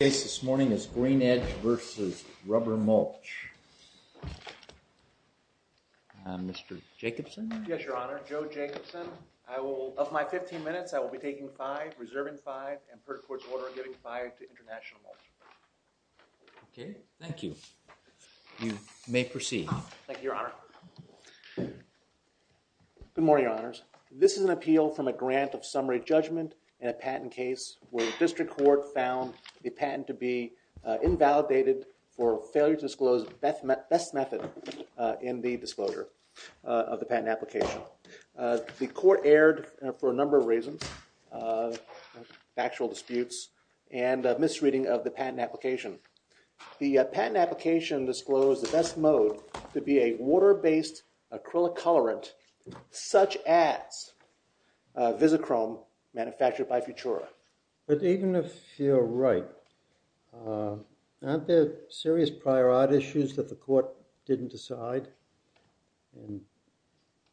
The case this morning is Green Edge v. Rubber Mulch Mr. Jacobson? Yes, your honor. Joe Jacobson. Of my 15 minutes, I will be taking 5, reserving 5, and per court's order, giving 5 to International Mulch. Okay. Thank you. You may proceed. Thank you, your honor. Good morning, your honors. This is an appeal from a grant of summary judgment in a patent case where the district court found the patent to be invalidated for failure to disclose the best method in the disclosure of the patent application. The court erred for a number of reasons, factual disputes, and misreading of the patent application. The patent application disclosed the best mode to be a water-based acrylic colorant, such as Vizichrome, manufactured by Futura. But even if you're right, aren't there serious prior art issues that the court didn't decide? And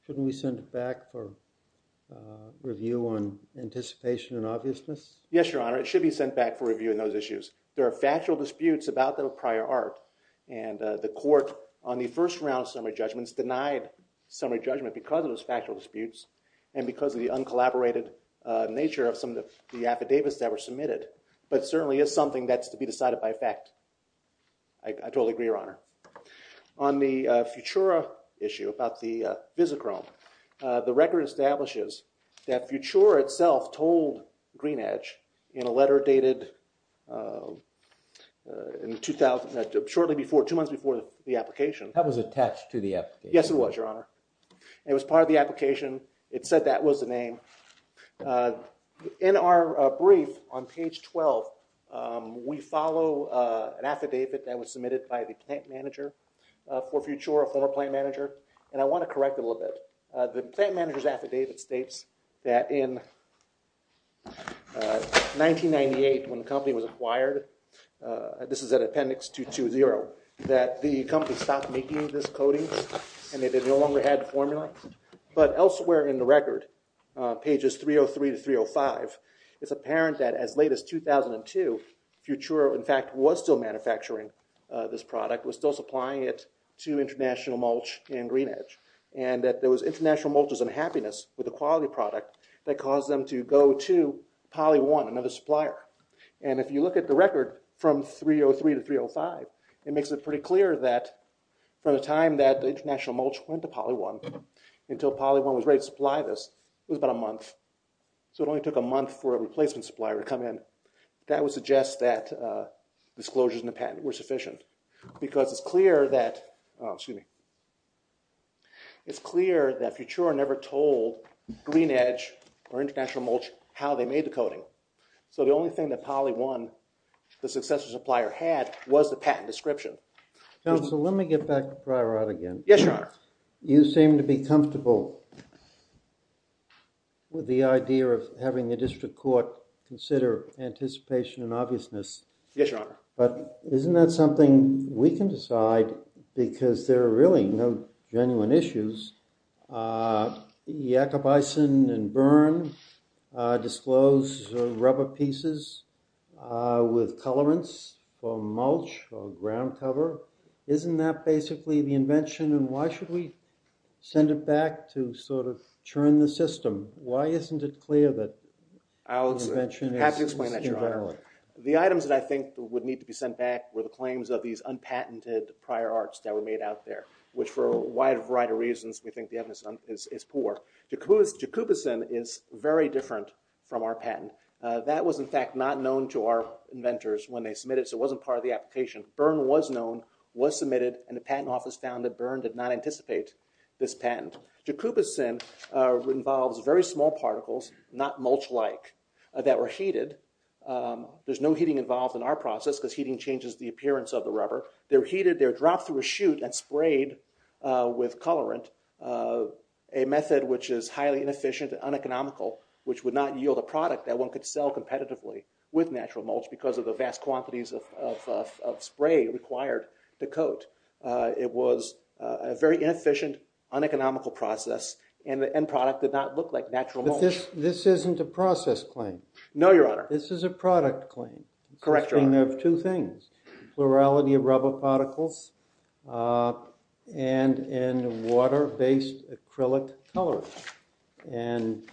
shouldn't we send it back for review on anticipation and obviousness? Yes, your honor. It should be sent back for review on those issues. There are factual disputes about the prior art, and the court, on the first round of summary judgments, denied summary judgment because of those factual disputes and because of the uncollaborated nature of some of the affidavits that were submitted. But it certainly is something that's to be decided by effect. I totally agree, your honor. On the Futura issue about the Vizichrome, the record establishes that Futura itself told GreenEdge in a letter dated shortly before, two months before the application. Yes, it was, your honor. It was part of the application. It said that was the name. In our brief on page 12, we follow an affidavit that was submitted by the plant manager for Futura, a former plant manager, and I want to correct a little bit. The plant manager's affidavit states that in 1998, when the company was acquired, this is at appendix 220, that the company stopped making this coating, and they no longer had the formula. But elsewhere in the record, pages 303 to 305, it's apparent that as late as 2002, Futura, in fact, was still manufacturing this product, was still supplying it to International Mulch and GreenEdge. And that there was International Mulch's unhappiness with the quality product that caused them to go to Poly 1, another supplier. And if you look at the record from 303 to 305, it makes it pretty clear that from the time that International Mulch went to Poly 1 until Poly 1 was ready to supply this, it was about a month. So it only took a month for a replacement supplier to come in. That would suggest that disclosures in the patent were sufficient. Because it's clear that Futura never told GreenEdge or International Mulch how they made the coating. So the only thing that Poly 1, the successor supplier, had was the patent description. Counsel, let me get back to Pryor out again. Yes, Your Honor. You seem to be comfortable with the idea of having the district court consider anticipation and obviousness. Yes, Your Honor. But isn't that something we can decide because there are really no genuine issues? Jakob Eysen and Byrne disclosed rubber pieces with colorants for mulch or ground cover. Isn't that basically the invention? And why should we send it back to sort of churn the system? Why isn't it clear that the invention is invalid? The items that I think would need to be sent back were the claims of these unpatented Pryor arcs that were made out there, which for a wide variety of reasons we think the evidence is poor. Jakob Eysen is very different from our patent. That was in fact not known to our inventors when they submitted it, so it wasn't part of the application. Byrne was known, was submitted, and the patent office found that Byrne did not anticipate this patent. Jakob Eysen involves very small particles, not mulch-like, that were heated. There's no heating involved in our process because heating changes the appearance of the rubber. They're heated. They're dropped through a chute and sprayed with colorant, a method which is highly inefficient and uneconomical, which would not yield a product that one could sell competitively with natural mulch because of the vast quantities of spray required to coat. It was a very inefficient, uneconomical process, and the end product did not look like natural mulch. But this isn't a process claim. No, Your Honor. This is a product claim. Correct, Your Honor. It's a claim of two things, plurality of rubber particles and in water-based acrylic colorant. And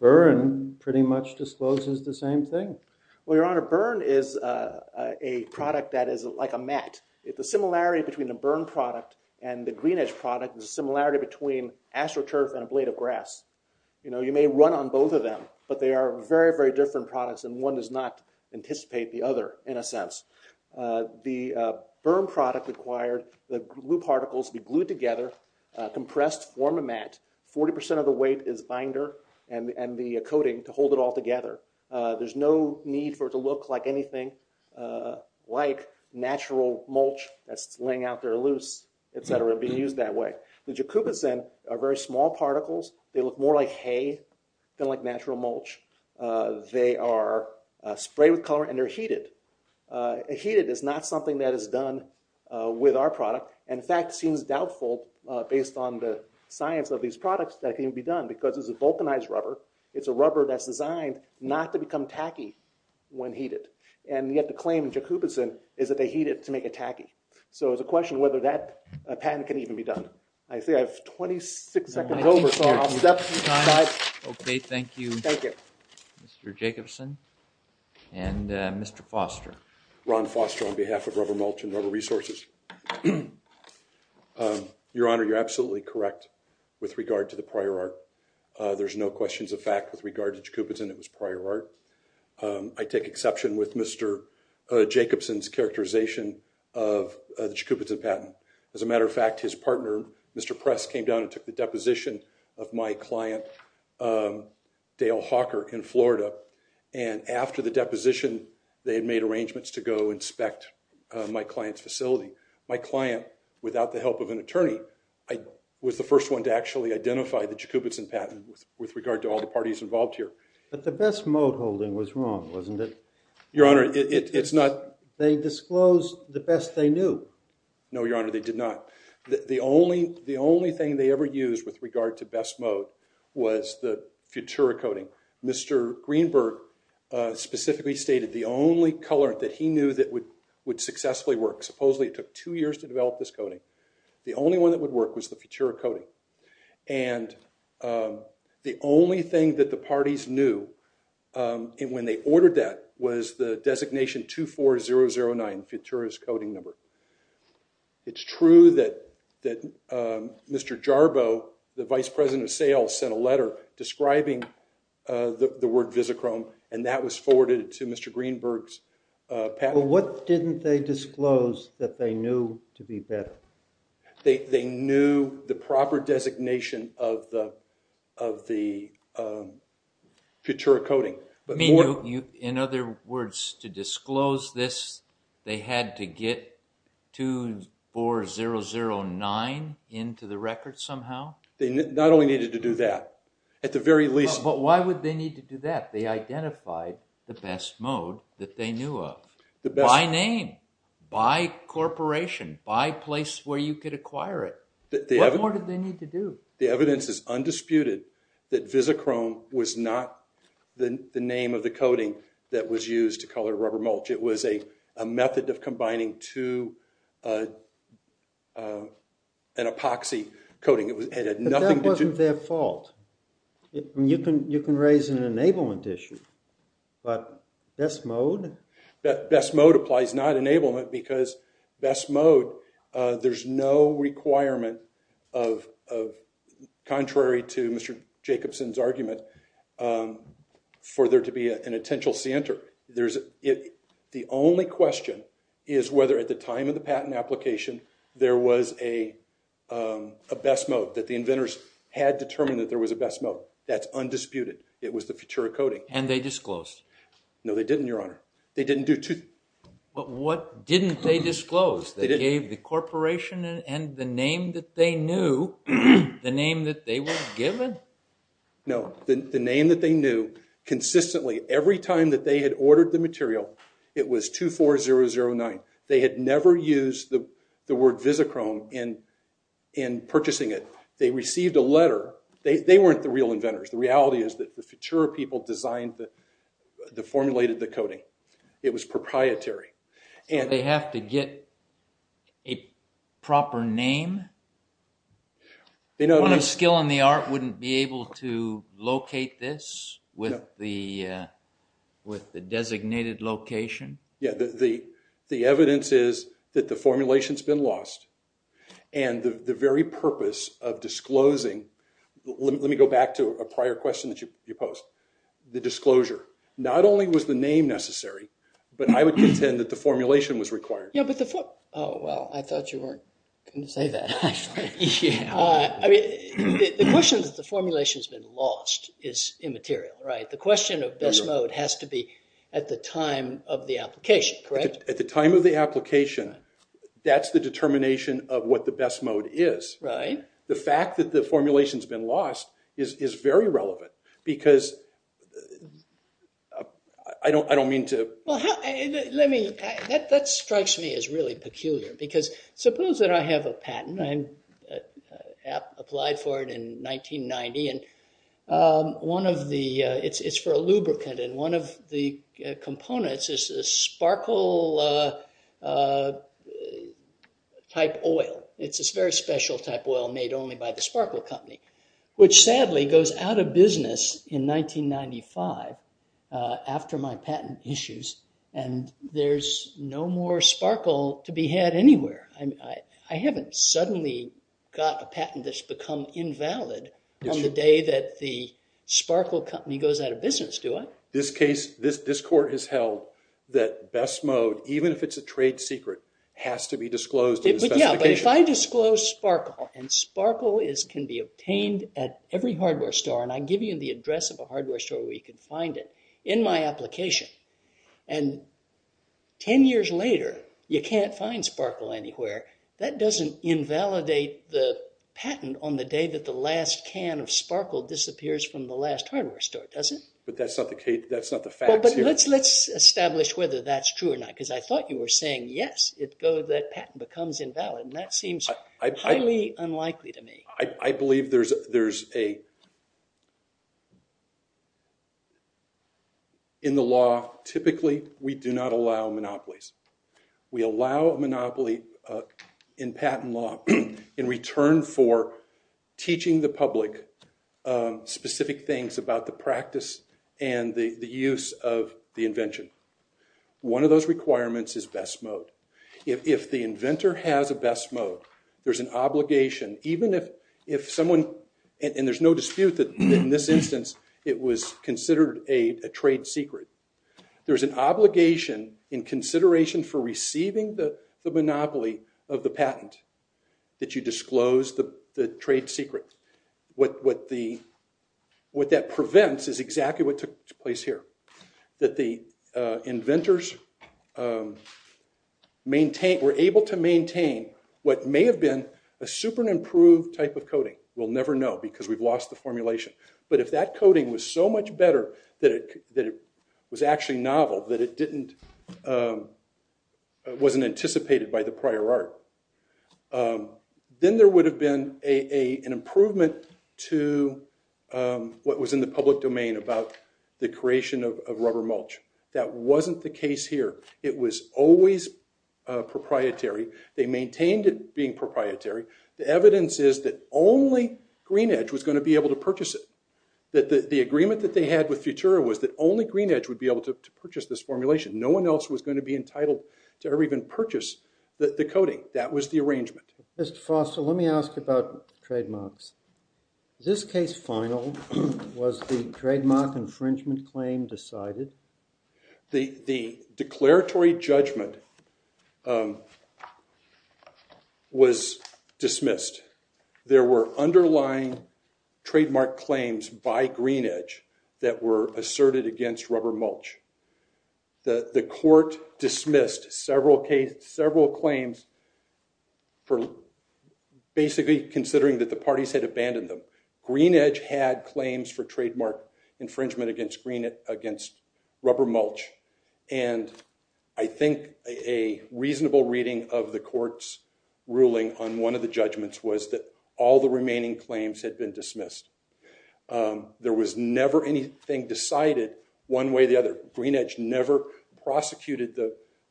Byrne pretty much discloses the same thing. Well, Your Honor, Byrne is a product that is like a mat. The similarity between a Byrne product and the GreenEdge product is the similarity between AstroTurf and a blade of grass. You may run on both of them, but they are very, very different products and one does not anticipate the other in a sense. The Byrne product required the glue particles to be glued together, compressed, form a mat. Forty percent of the weight is binder and the coating to hold it all together. There's no need for it to look like anything like natural mulch that's laying out there loose, etc., being used that way. The jacobicin are very small particles. They look more like hay than like natural mulch. They are sprayed with colorant and they're heated. Heated is not something that is done with our product. In fact, it seems doubtful based on the science of these products that it can be done because it's a vulcanized rubber. It's a rubber that's designed not to become tacky when heated. And yet the claim in jacobicin is that they heat it to make it tacky. So it's a question whether that patent can even be done. I say I have 26 seconds over, so I'll stop the time. Okay, thank you, Mr. Jacobson and Mr. Foster. Ron Foster on behalf of Rubber Mulch and Rubber Resources. Your Honor, you're absolutely correct with regard to the prior art. There's no questions of fact with regard to jacobicin. It was prior art. I take exception with Mr. Jacobson's characterization of the jacobicin patent. As a matter of fact, his partner, Mr. Press, came down and took the deposition of my client, Dale Hawker, in Florida. And after the deposition, they had made arrangements to go inspect my client's facility. My client, without the help of an attorney, was the first one to actually identify the jacobicin patent with regard to all the parties involved here. But the Best Mode holding was wrong, wasn't it? Your Honor, it's not. They disclosed the best they knew. No, Your Honor, they did not. The only thing they ever used with regard to Best Mode was the Futura coating. Mr. Greenberg specifically stated the only colorant that he knew that would successfully work, supposedly it took two years to develop this coating, the only one that would work was the Futura coating. And the only thing that the parties knew when they ordered that was the designation 24009, Futura's coating number. It's true that Mr. Jarbo, the vice president of sales, sent a letter describing the word visichrome, and that was forwarded to Mr. Greenberg's patent. But what didn't they disclose that they knew to be better? They knew the proper designation of the Futura coating. In other words, to disclose this, they had to get 24009 into the record somehow? They not only needed to do that, at the very least... But why would they need to do that? They identified the Best Mode that they knew of. By name, by corporation, by place where you could acquire it. What more did they need to do? The evidence is undisputed that visichrome was not the name of the coating that was used to color rubber mulch. It was a method of combining to an epoxy coating. But that wasn't their fault. You can raise an enablement issue, but Best Mode? Best Mode applies, not enablement, because Best Mode... There's no requirement, contrary to Mr. Jacobson's argument, for there to be an attention center. The only question is whether at the time of the patent application, there was a Best Mode that the inventors had determined that there was a Best Mode. That's undisputed. It was the Futura coating. And they disclosed? No, they didn't, Your Honor. They didn't do... But what didn't they disclose? They gave the corporation and the name that they knew, the name that they were given? No. The name that they knew, consistently, every time that they had ordered the material, it was 24009. They had never used the word visichrome in purchasing it. They received a letter. They weren't the real inventors. The reality is that the Futura people formulated the coating. It was proprietary. They have to get a proper name? One of skill and the art wouldn't be able to locate this with the designated location? The evidence is that the formulation has been lost. And the very purpose of disclosing, let me go back to a prior question that you posed. The disclosure, not only was the name necessary, but I would contend that the formulation was required. Oh, well, I thought you weren't going to say that. I mean, the question that the formulation has been lost is immaterial, right? The question of best mode has to be at the time of the application, correct? At the time of the application, that's the determination of what the best mode is. Right. The fact that the formulation has been lost is very relevant because I don't mean to... That strikes me as really peculiar because suppose that I have a patent. I applied for it in 1990. And it's for a lubricant. And one of the components is a sparkle type oil. It's a very special type oil made only by the Sparkle Company, which sadly goes out of business in 1995 after my patent issues. And there's no more Sparkle to be had anywhere. I haven't suddenly got a patent that's become invalid on the day that the Sparkle Company goes out of business, do I? This court has held that best mode, even if it's a trade secret, has to be disclosed in the specification. Yeah, but if I disclose Sparkle, and Sparkle can be obtained at every hardware store, and I give you the address of a hardware store where you can find it in my application, and 10 years later you can't find Sparkle anywhere, that doesn't invalidate the patent on the day that the last can of Sparkle disappears from the last hardware store, does it? But that's not the facts here. Well, but let's establish whether that's true or not because I thought you were saying, yes, that patent becomes invalid, and that seems highly unlikely to me. I believe in the law, typically, we do not allow monopolies. We allow a monopoly in patent law in return for teaching the public specific things about the practice and the use of the invention. One of those requirements is best mode. If the inventor has a best mode, there's an obligation, even if someone, and there's no dispute that in this instance it was considered a trade secret, there's an obligation in consideration for receiving the monopoly of the patent that you disclose the trade secret. What that prevents is exactly what took place here, that the inventors were able to maintain what may have been a super-improved type of coding. We'll never know because we've lost the formulation. But if that coding was so much better that it was actually novel, that it wasn't anticipated by the prior art, then there would have been an improvement to what was in the public domain about the creation of rubber mulch. That wasn't the case here. It was always proprietary. They maintained it being proprietary. The evidence is that only GreenEdge was going to be able to purchase it. The agreement that they had with Futura was that only GreenEdge would be able to purchase this formulation. No one else was going to be entitled to ever even purchase the coding. That was the arrangement. Mr. Foster, let me ask about trademarks. This case final, was the trademark infringement claim decided? The declaratory judgment was dismissed. There were underlying trademark claims by GreenEdge that were asserted against rubber mulch. The court dismissed several claims for basically considering that the parties had abandoned them. GreenEdge had claims for trademark infringement against rubber mulch. And I think a reasonable reading of the court's ruling on one of the judgments was that all the remaining claims had been dismissed. There was never anything decided one way or the other. GreenEdge never prosecuted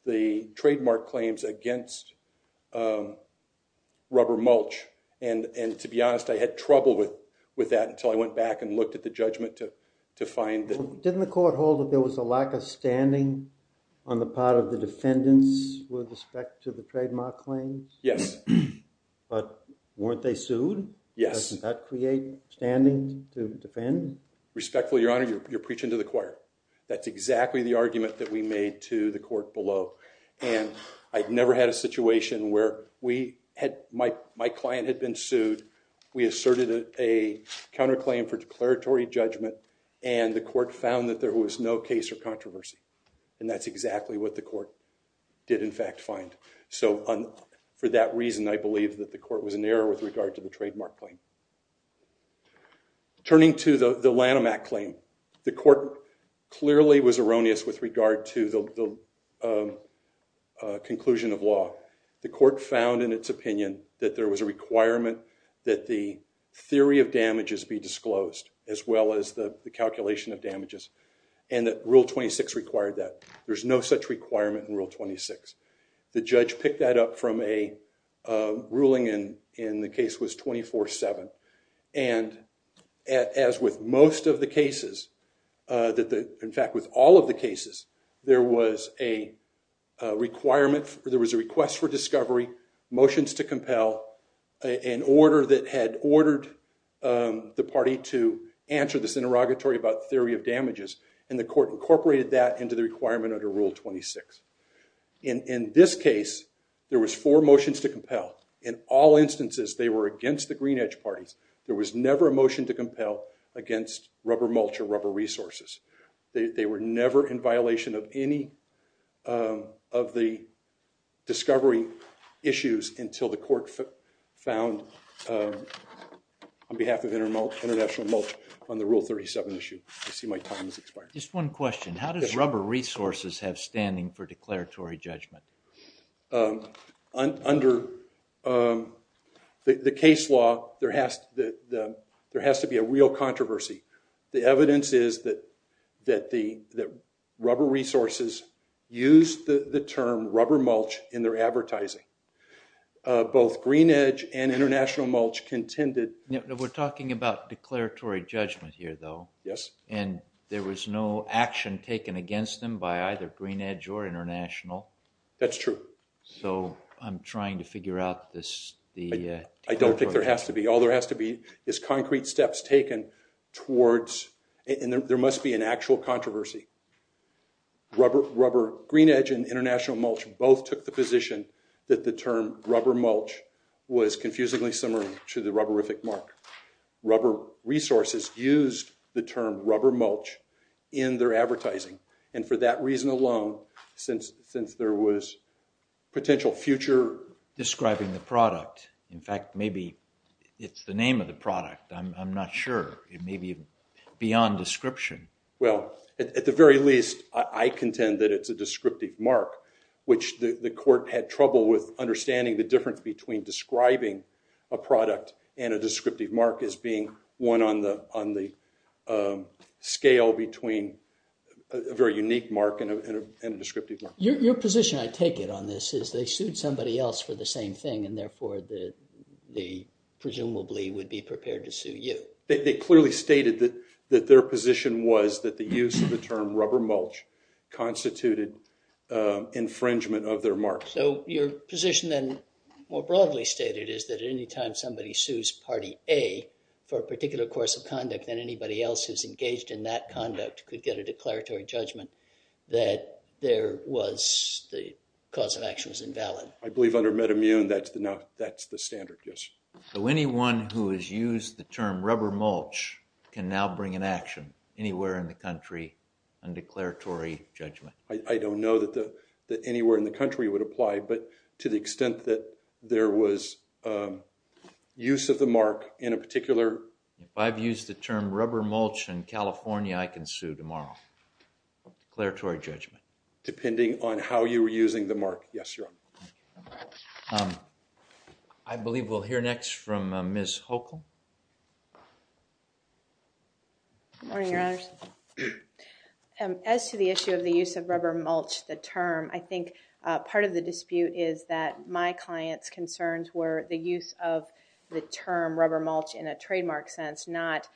the trademark claims against rubber mulch. And to be honest, I had trouble with that until I went back and looked at the judgment to find that. Didn't the court hold that there was a lack of standing on the part of the defendants with respect to the trademark claims? Yes. But weren't they sued? Yes. Doesn't that create standing to defend? Respectfully, Your Honor, you're preaching to the choir. That's exactly the argument that we made to the court below. And I've never had a situation where my client had been sued. We asserted a counterclaim for declaratory judgment. And the court found that there was no case or controversy. And that's exactly what the court did in fact find. So for that reason, I believe that the court was in error with regard to the trademark claim. Turning to the Lanham Act claim, the court clearly was erroneous with regard to the conclusion of law. The court found in its opinion that there was a requirement that the theory of damages be disclosed as well as the calculation of damages. And that Rule 26 required that. There's no such requirement in Rule 26. The judge picked that up from a ruling, and the case was 24-7. And as with most of the cases, in fact with all of the cases, there was a request for discovery, motions to compel, an order that had ordered the party to answer this interrogatory about theory of damages. And the court incorporated that into the requirement under Rule 26. In this case, there was four motions to compel. In all instances, they were against the Green Edge parties. There was never a motion to compel against rubber mulch or rubber resources. They were never in violation of any of the discovery issues until the court found on behalf of international mulch on the Rule 37 issue. I see my time has expired. Just one question. How does rubber resources have standing for declaratory judgment? Under the case law, there has to be a real controversy. The evidence is that rubber resources used the term rubber mulch in their advertising. Both Green Edge and international mulch contended- We're talking about declaratory judgment here, though. Yes. And there was no action taken against them by either Green Edge or international? That's true. So I'm trying to figure out the- I don't think there has to be. All there has to be is concrete steps taken towards- and there must be an actual controversy. Green Edge and international mulch both took the position that the term rubber mulch was confusingly similar to the rubberific mark. Rubber resources used the term rubber mulch in their advertising. And for that reason alone, since there was potential future- Describing the product. In fact, maybe it's the name of the product. I'm not sure. It may be beyond description. Well, at the very least, I contend that it's a descriptive mark, which the court had trouble with understanding the difference between describing a product and a descriptive mark as being one on the scale between a very unique mark and a descriptive mark. Your position, I take it, on this is they sued somebody else for the same thing, and therefore they presumably would be prepared to sue you. They clearly stated that their position was that the use of the term rubber mulch constituted infringement of their mark. So your position then, more broadly stated, is that any time somebody sues Party A for a particular course of conduct, then anybody else who's engaged in that conduct could get a declaratory judgment that the cause of action was invalid. I believe under MedImmune, that's the standard, yes. So anyone who has used the term rubber mulch can now bring an action anywhere in the country on declaratory judgment. I don't know that anywhere in the country would apply, but to the extent that there was use of the mark in a particular- If I've used the term rubber mulch in California, I can sue tomorrow. Declaratory judgment. Depending on how you were using the mark. Yes, Your Honor. I believe we'll hear next from Ms. Hochul. Good morning, Your Honor. As to the issue of the use of rubber mulch, the term, I think part of the dispute is that my client's concerns were the use of the term rubber mulch in a trademark sense, not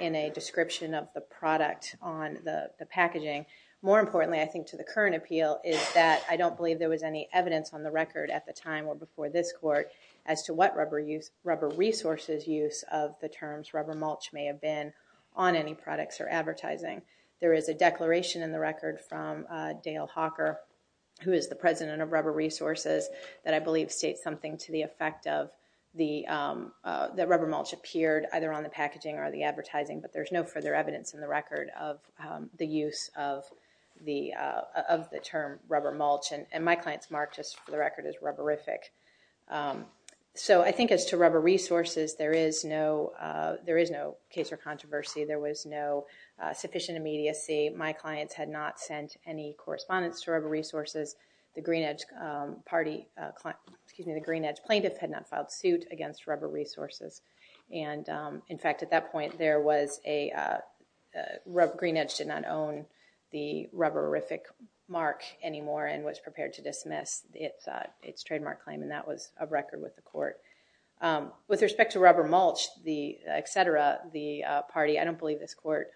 in a description of the product on the packaging. More importantly, I think to the current appeal, is that I don't believe there was any evidence on the record at the time or before this court as to what rubber resources use of the terms rubber mulch may have been on any products or advertising. There is a declaration in the record from Dale Hawker, who is the president of rubber resources, that I believe states something to the effect of the rubber mulch appeared either on the packaging or the advertising, but there's no further evidence in the record of the use of the term rubber mulch. And my client's mark, just for the record, is rubberific. So I think as to rubber resources, there is no case or controversy. There was no sufficient immediacy. My clients had not sent any correspondence to rubber resources. The Green Edge plaintiff had not filed suit against rubber resources. In fact, at that point, Green Edge did not own the rubberific mark anymore and was prepared to dismiss its trademark claim, and that was of record with the court. With respect to rubber mulch, et cetera, the party, I don't believe this court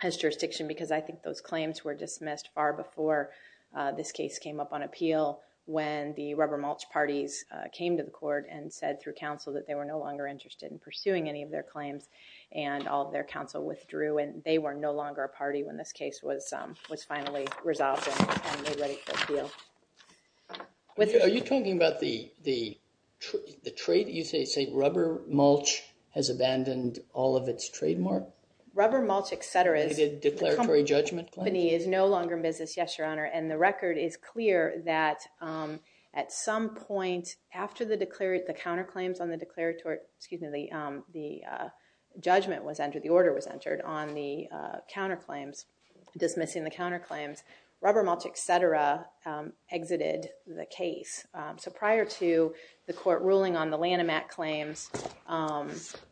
has jurisdiction because I think those claims were dismissed far before this case came up on appeal when the rubber mulch parties came to the court and said through counsel that they were no longer interested in pursuing any of their claims, and all of their counsel withdrew, and they were no longer a party when this case was finally resolved and ready for appeal. Are you talking about the trade? You say rubber mulch has abandoned all of its trademark? Rubber mulch, et cetera. The declaratory judgment claim? The company is no longer in business, yes, Your Honor. And the record is clear that at some point after the counterclaims on the declaratory, excuse me, the judgment was entered, the order was entered on the counterclaims, dismissing the counterclaims, rubber mulch, et cetera, exited the case. So prior to the court ruling on the Lanham Act claims,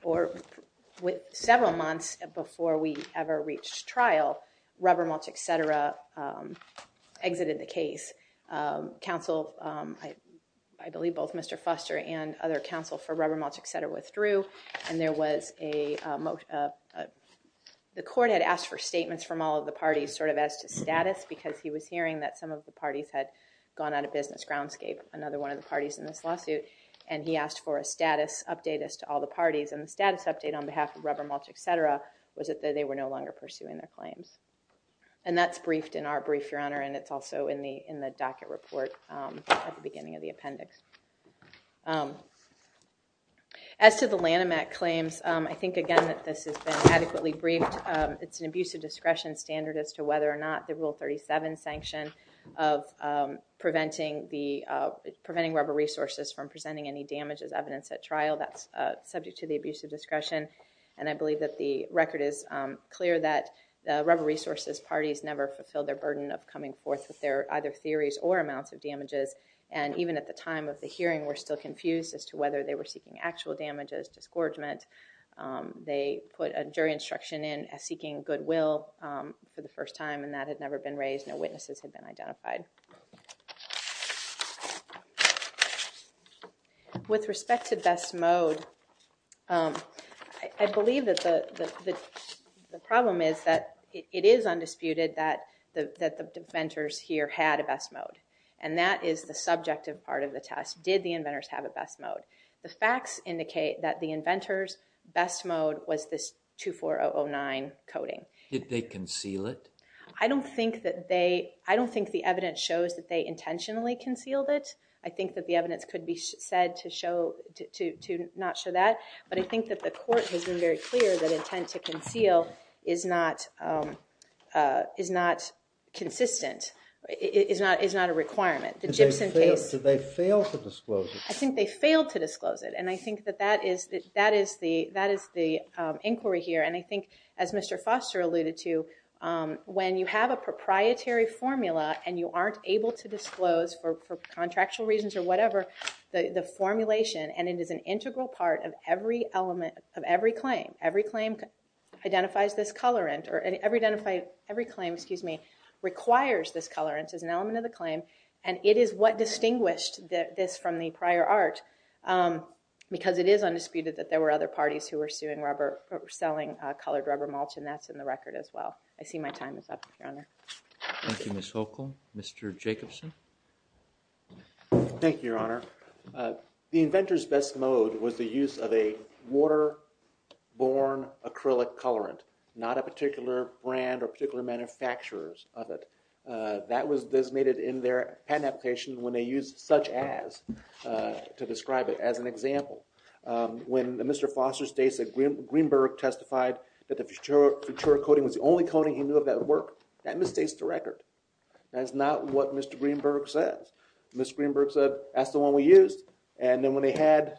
or several months before we ever reached trial, rubber mulch, et cetera, exited the case. Counsel, I believe both Mr. Foster and other counsel for rubber mulch, et cetera, withdrew. And there was a, the court had asked for statements from all of the parties sort of as to status because he was hearing that some of the parties had gone out of business groundscape, another one of the parties in this lawsuit. And he asked for a status update as to all the parties. And the status update on behalf of rubber mulch, et cetera, was that they were no longer pursuing their claims. And that's briefed in our brief, Your Honor, and it's also in the docket report at the beginning of the appendix. As to the Lanham Act claims, I think, again, that this has been adequately briefed. It's an abuse of discretion standard as to whether or not the Rule 37 sanction of preventing rubber resources from presenting any damage as evidence at trial, that's subject to the abuse of discretion. And I believe that the record is clear that the rubber resources parties never fulfilled their burden of coming forth with their either theories or amounts of damages. And even at the time of the hearing, we're still confused as to whether they were seeking actual damages, disgorgement. They put a jury instruction in as seeking goodwill for the first time, and that had never been raised. No witnesses had been identified. With respect to best mode, I believe that the problem is that it is undisputed that the inventors here had a best mode. And that is the subjective part of the test. Did the inventors have a best mode? The facts indicate that the inventors' best mode was this 24009 coding. Did they conceal it? I don't think the evidence shows that they intentionally concealed it. I think that the evidence could be said to not show that. But I think that the court has been very clear that intent to conceal is not consistent, is not a requirement. Did they fail to disclose it? I think they failed to disclose it. And I think that that is the inquiry here. And I think, as Mr. Foster alluded to, when you have a proprietary formula and you aren't able to disclose for contractual reasons or whatever the formulation, and it is an integral part of every claim, every claim identifies this colorant, or every claim requires this colorant as an element of the claim, and it is what distinguished this from the prior art, because it is undisputed that there were other parties who were suing rubber, selling colored rubber mulch, and that's in the record as well. I see my time is up, Your Honor. Thank you, Ms. Hochul. Mr. Jacobson? Thank you, Your Honor. The inventors' best mode was the use of a waterborne acrylic colorant, not a particular brand or particular manufacturers of it. That was designated in their patent application when they used such as to describe it as an example. When Mr. Foster states that Greenberg testified that the Futura coating was the only coating he knew of that worked, that misstates the record. That is not what Mr. Greenberg said. Mr. Greenberg said, that's the one we used, and then when they had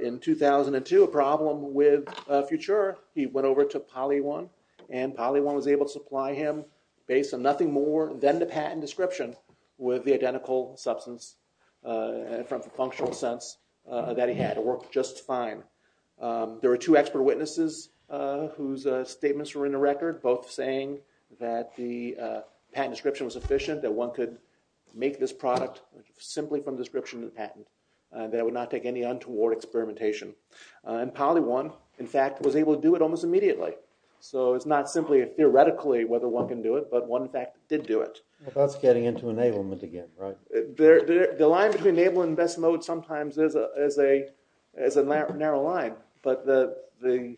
in 2002 a problem with Futura, he went over to Poly-1, and Poly-1 was able to supply him, based on nothing more than the patent description, with the identical substance from the functional sense that he had. It worked just fine. There were two expert witnesses whose statements were in the record, both saying that the patent description was sufficient, that one could make this product simply from the description of the patent, that it would not take any untoward experimentation. And Poly-1, in fact, was able to do it almost immediately. So it's not simply theoretically whether one can do it, but one in fact did do it. That's getting into enablement again, right? The line between enablement and best mode sometimes is a narrow line, but the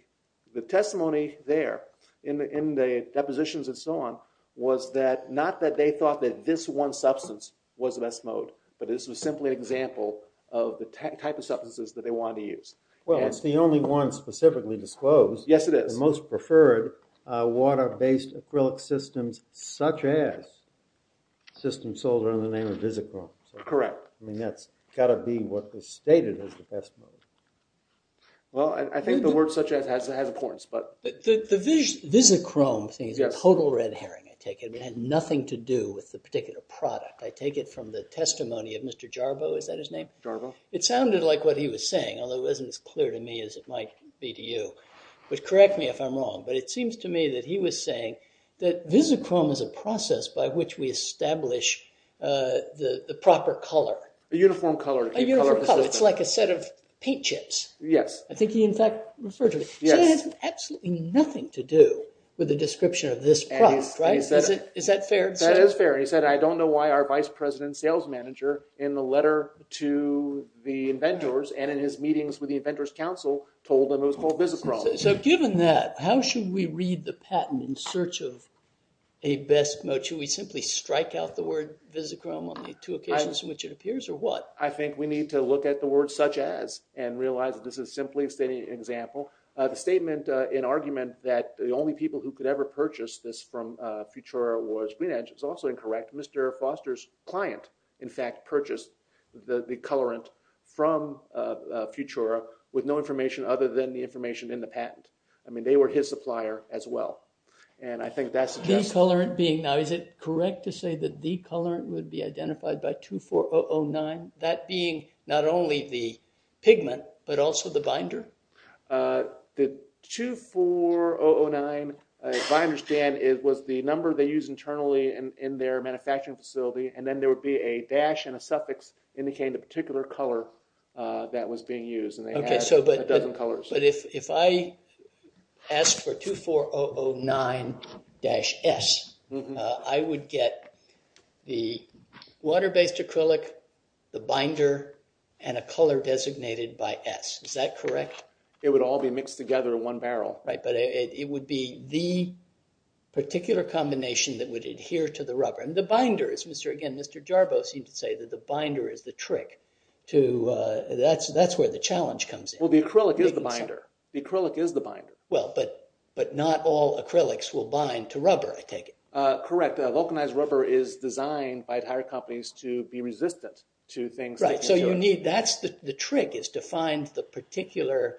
testimony there in the depositions and so on was not that they thought that this one substance was the best mode, but this was simply an example of the type of substances that they wanted to use. Well, it's the only one specifically disclosed. Yes, it is. The most preferred water-based acrylic systems, such as systems sold under the name of Visichrome. Correct. I mean, that's got to be what was stated as the best mode. Well, I think the word such as has importance, but... The Visichrome thing is a total red herring, I take it. It had nothing to do with the particular product. I take it from the testimony of Mr. Jarbo, is that his name? Jarbo. It sounded like what he was saying, although it wasn't as clear to me as it might be to you. But correct me if I'm wrong, but it seems to me that he was saying that Visichrome is a process by which we establish the proper color. A uniform color. A uniform color. It's like a set of paint chips. Yes. I think he, in fact, referred to it. Yes. So it had absolutely nothing to do with the description of this product, right? Is that fair? That is fair. He said, I don't know why our vice president sales manager, in the letter to the inventors, and in his meetings with the inventors council, told them it was called Visichrome. So given that, how should we read the patent in search of a best mode? Should we simply strike out the word Visichrome on the two occasions in which it appears, or what? I think we need to look at the word such as and realize that this is simply a stating example. The statement in argument that the only people who could ever purchase this from Futura was GreenEdge was also incorrect. Mr. Foster's client, in fact, purchased the colorant from Futura with no information other than the information in the patent. I mean, they were his supplier as well. And I think that suggests… The colorant being, now, is it correct to say that the colorant would be identified by 24009? The 24009, if I understand, was the number they used internally in their manufacturing facility, and then there would be a dash and a suffix indicating a particular color that was being used. And they had a dozen colors. But if I asked for 24009-S, I would get the water-based acrylic, the binder, and a color designated by S. Is that correct? It would all be mixed together in one barrel. Right, but it would be the particular combination that would adhere to the rubber. And the binder is… Again, Mr. Jarbo seemed to say that the binder is the trick to… That's where the challenge comes in. Well, the acrylic is the binder. The acrylic is the binder. Well, but not all acrylics will bind to rubber, I take it. Correct. Vulcanized rubber is designed by tire companies to be resistant to things… The trick is to find the particular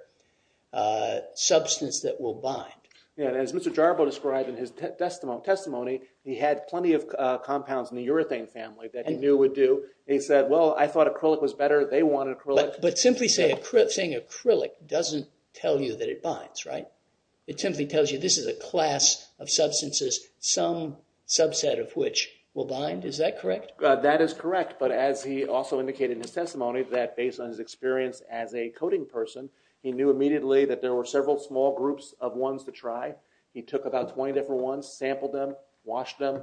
substance that will bind. As Mr. Jarbo described in his testimony, he had plenty of compounds in the urethane family that he knew would do. He said, well, I thought acrylic was better. They wanted acrylic. But simply saying acrylic doesn't tell you that it binds, right? It simply tells you this is a class of substances, some subset of which will bind. Is that correct? That is correct. But as he also indicated in his testimony that based on his experience as a coating person, he knew immediately that there were several small groups of ones to try. He took about 20 different ones, sampled them, washed them,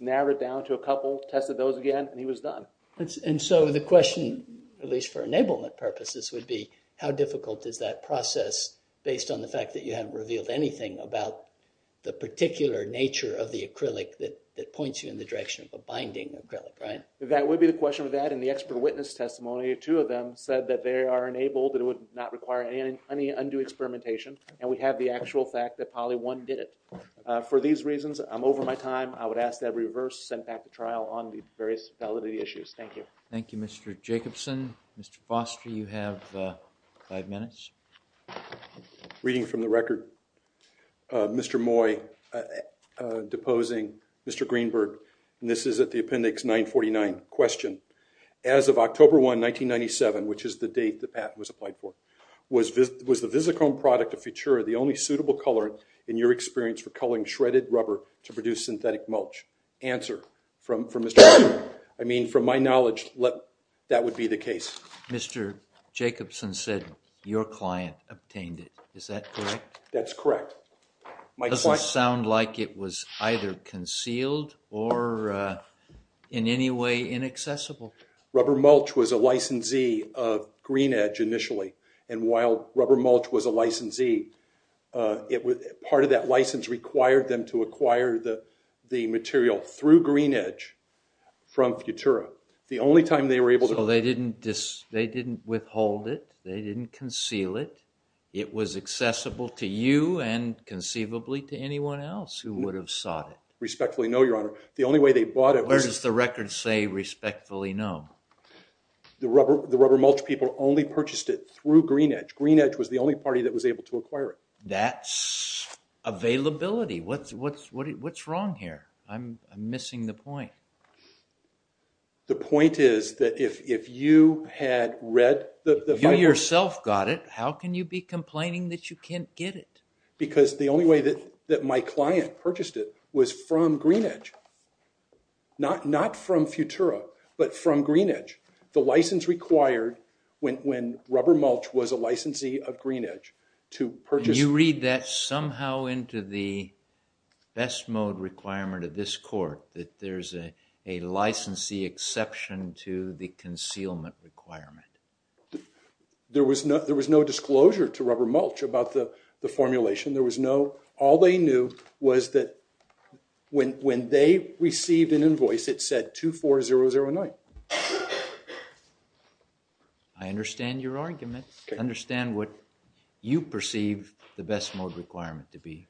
narrowed it down to a couple, tested those again, and he was done. And so the question, at least for enablement purposes, would be how difficult is that process based on the fact that you haven't revealed anything about the particular nature of the acrylic that points you in the direction of a binding acrylic, right? That would be the question of that. In the expert witness testimony, two of them said that they are enabled, that it would not require any undue experimentation, and we have the actual fact that probably one did it. For these reasons, I'm over my time. I would ask that reverse sent back to trial on the various validity issues. Thank you. Thank you, Mr. Jacobson. Mr. Foster, you have five minutes. Reading from the record, Mr. Moy deposing Mr. Greenberg. This is at the appendix 949. Question. As of October 1, 1997, which is the date that Pat was applied for, was the VisiChrome product of Futura the only suitable color in your experience for coloring shredded rubber to produce synthetic mulch? Answer. From my knowledge, that would be the case. Mr. Jacobson said your client obtained it. Is that correct? That's correct. It doesn't sound like it was either concealed or in any way inaccessible. Rubber mulch was a licensee of GreenEdge initially, and while rubber mulch was a licensee, part of that license required them to acquire the material through GreenEdge from Futura. The only time they were able to – So they didn't withhold it? They didn't conceal it? It was accessible to you and conceivably to anyone else who would have sought it. Respectfully no, Your Honor. The only way they bought it was – Where does the record say respectfully no? The rubber mulch people only purchased it through GreenEdge. GreenEdge was the only party that was able to acquire it. That's availability. What's wrong here? I'm missing the point. The point is that if you had read the – You yourself got it. How can you be complaining that you can't get it? Because the only way that my client purchased it was from GreenEdge. Not from Futura, but from GreenEdge. The license required, when rubber mulch was a licensee of GreenEdge, to purchase – You read that somehow into the best mode requirement of this court, that there's a licensee exception to the concealment requirement? There was no disclosure to rubber mulch about the formulation. There was no – All they knew was that when they received an invoice, it said 24009. I understand your argument. I understand what you perceive the best mode requirement to be.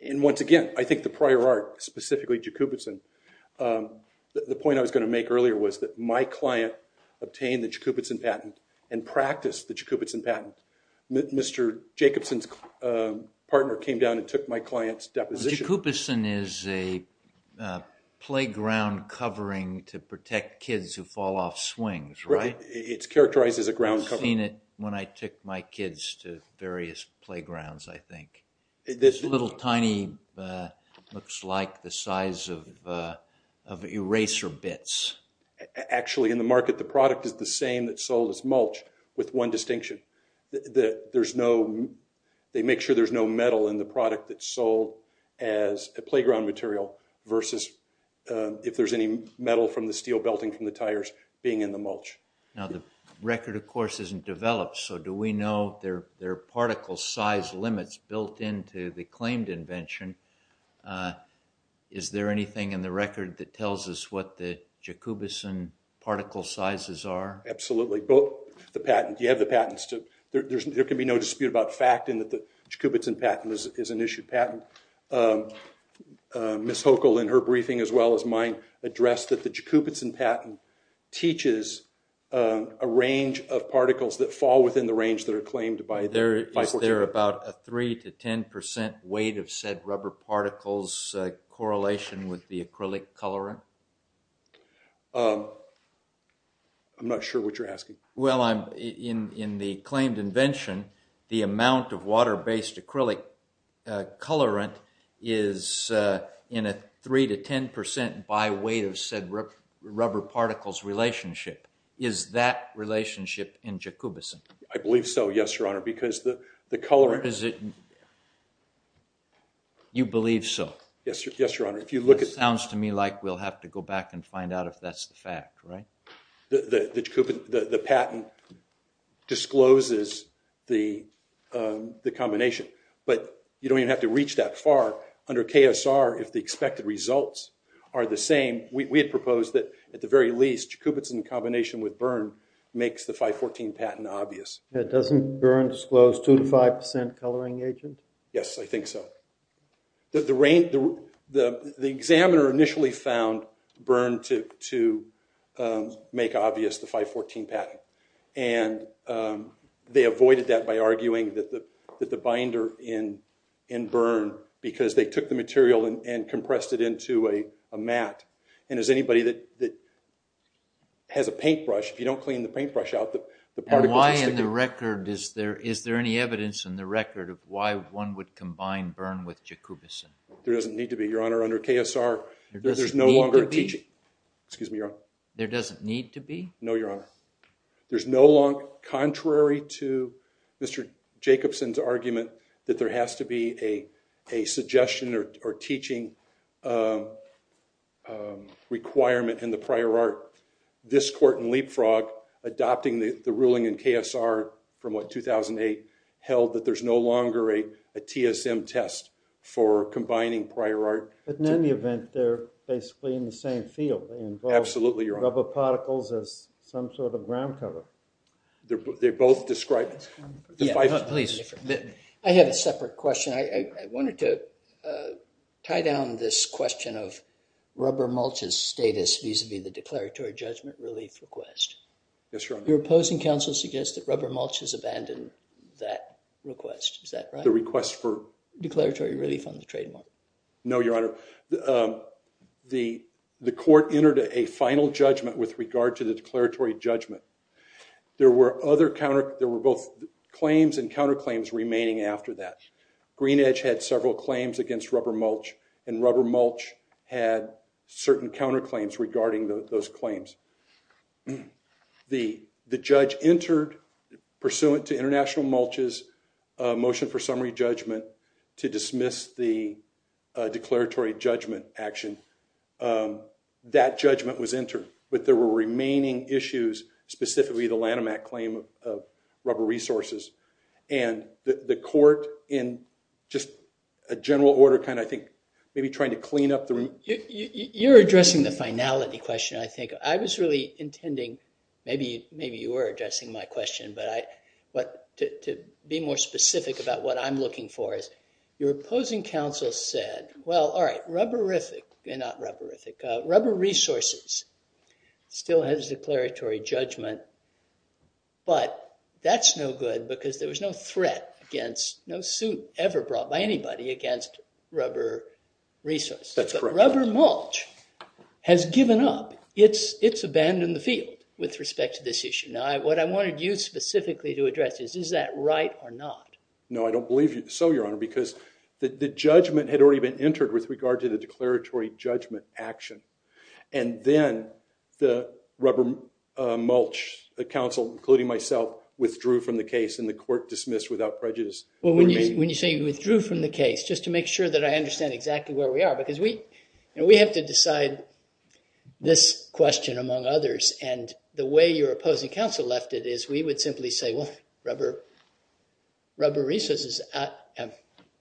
And once again, I think the prior art, specifically Jacobson, the point I was going to make earlier was that my client obtained the Jacobson patent and practiced the Jacobson patent. Mr. Jacobson's partner came down and took my client's deposition. Jacobson is a playground covering to protect kids who fall off swings, right? It's characterized as a ground covering. I've seen it when I took my kids to various playgrounds, I think. This little tiny looks like the size of eraser bits. Actually, in the market, the product is the same that's sold as mulch with one distinction. There's no – they make sure there's no metal in the product that's sold as a playground material versus if there's any metal from the steel belting from the tires being in the mulch. Now, the record, of course, isn't developed, so do we know there are particle size limits built into the claimed invention? Is there anything in the record that tells us what the Jacobson particle sizes are? Absolutely. You have the patents. There can be no dispute about fact in that the Jacobson patent is an issued patent. Ms. Hochul, in her briefing as well as mine, addressed that the Jacobson patent teaches a range of particles that fall within the range that are claimed by – Is there about a 3% to 10% weight of said rubber particles correlation with the acrylic colorant? I'm not sure what you're asking. Well, in the claimed invention, the amount of water-based acrylic colorant is in a 3% to 10% by weight of said rubber particles relationship. Is that relationship in Jacobson? I believe so, yes, Your Honor, because the colorant – You believe so? Yes, Your Honor. It sounds to me like we'll have to go back and find out if that's the fact, right? The patent discloses the combination, but you don't even have to reach that far. Under KSR, if the expected results are the same, we had proposed that at the very least, Jacobson in combination with Byrne makes the 514 patent obvious. Doesn't Byrne disclose 2% to 5% coloring agent? Yes, I think so. The examiner initially found Byrne to make obvious the 514 patent, and they avoided that by arguing that the binder in Byrne, because they took the material and compressed it into a mat, and as anybody that has a paintbrush, if you don't clean the paintbrush out, the particles will stick. Is there any evidence in the record of why one would combine Byrne with Jacobson? There doesn't need to be, Your Honor. Under KSR, there's no longer a teaching – There doesn't need to be? Excuse me, Your Honor. There doesn't need to be? No, Your Honor. There's no longer, contrary to Mr. Jacobson's argument, that there has to be a suggestion or teaching requirement in the prior art. This court in Leapfrog, adopting the ruling in KSR from, what, 2008, held that there's no longer a TSM test for combining prior art. But in any event, they're basically in the same field. Absolutely, Your Honor. They involve rubber particles as some sort of ground cover. They both describe – Please. I have a separate question. I wanted to tie down this question of rubber mulch's status vis-à-vis the declaratory judgment relief request. Yes, Your Honor. Your opposing counsel suggests that rubber mulch has abandoned that request. Is that right? The request for? Declaratory relief on the trademark. No, Your Honor. The court entered a final judgment with regard to the declaratory judgment. There were both claims and counterclaims remaining after that. Greenidge had several claims against rubber mulch, and rubber mulch had certain counterclaims regarding those claims. The judge entered, pursuant to international mulch's motion for summary judgment, to dismiss the declaratory judgment action. That judgment was entered, but there were remaining issues, specifically the Lanham Act claim of rubber resources. The court, in just a general order, kind of, I think, maybe trying to clean up the room. You're addressing the finality question, I think. I was really intending – maybe you were addressing my question, but to be more specific about what I'm looking for is, your opposing counsel said, well, all right, rubberific – not rubberific – rubber resources still has declaratory judgment, but that's no good because there was no threat against – no suit ever brought by anybody against rubber resources. That's correct. Rubber mulch has given up. It's abandoned the field with respect to this issue. Now, what I wanted you specifically to address is, is that right or not? No, I don't believe so, Your Honor, because the judgment had already been entered with regard to the declaratory judgment action, and then the rubber mulch, the counsel, including myself, withdrew from the case and the court dismissed without prejudice. Well, when you say you withdrew from the case, just to make sure that I understand exactly where we are, because we have to decide this question among others, and the way your opposing counsel left it is we would simply say, well, rubber resources –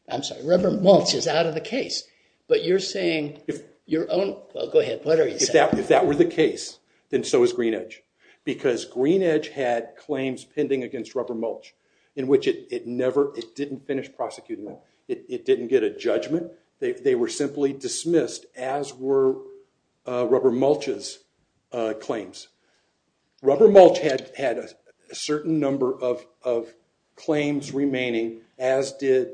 I'm sorry, rubber mulch is out of the case, but you're saying your own – well, go ahead. What are you saying? If that were the case, then so is GreenEdge, because GreenEdge had claims pending against rubber mulch in which it never – it didn't finish prosecuting them. It didn't get a judgment. They were simply dismissed, as were rubber mulch's claims. Rubber mulch had a certain number of claims remaining, as did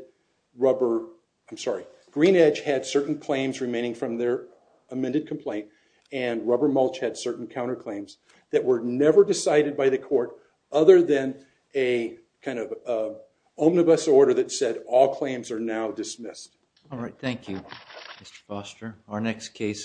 rubber – I'm sorry. GreenEdge had certain claims remaining from their amended complaint, and rubber mulch had certain counterclaims that were never decided by the court other than a kind of omnibus order that said all claims are now dismissed. All right. Thank you, Mr. Foster.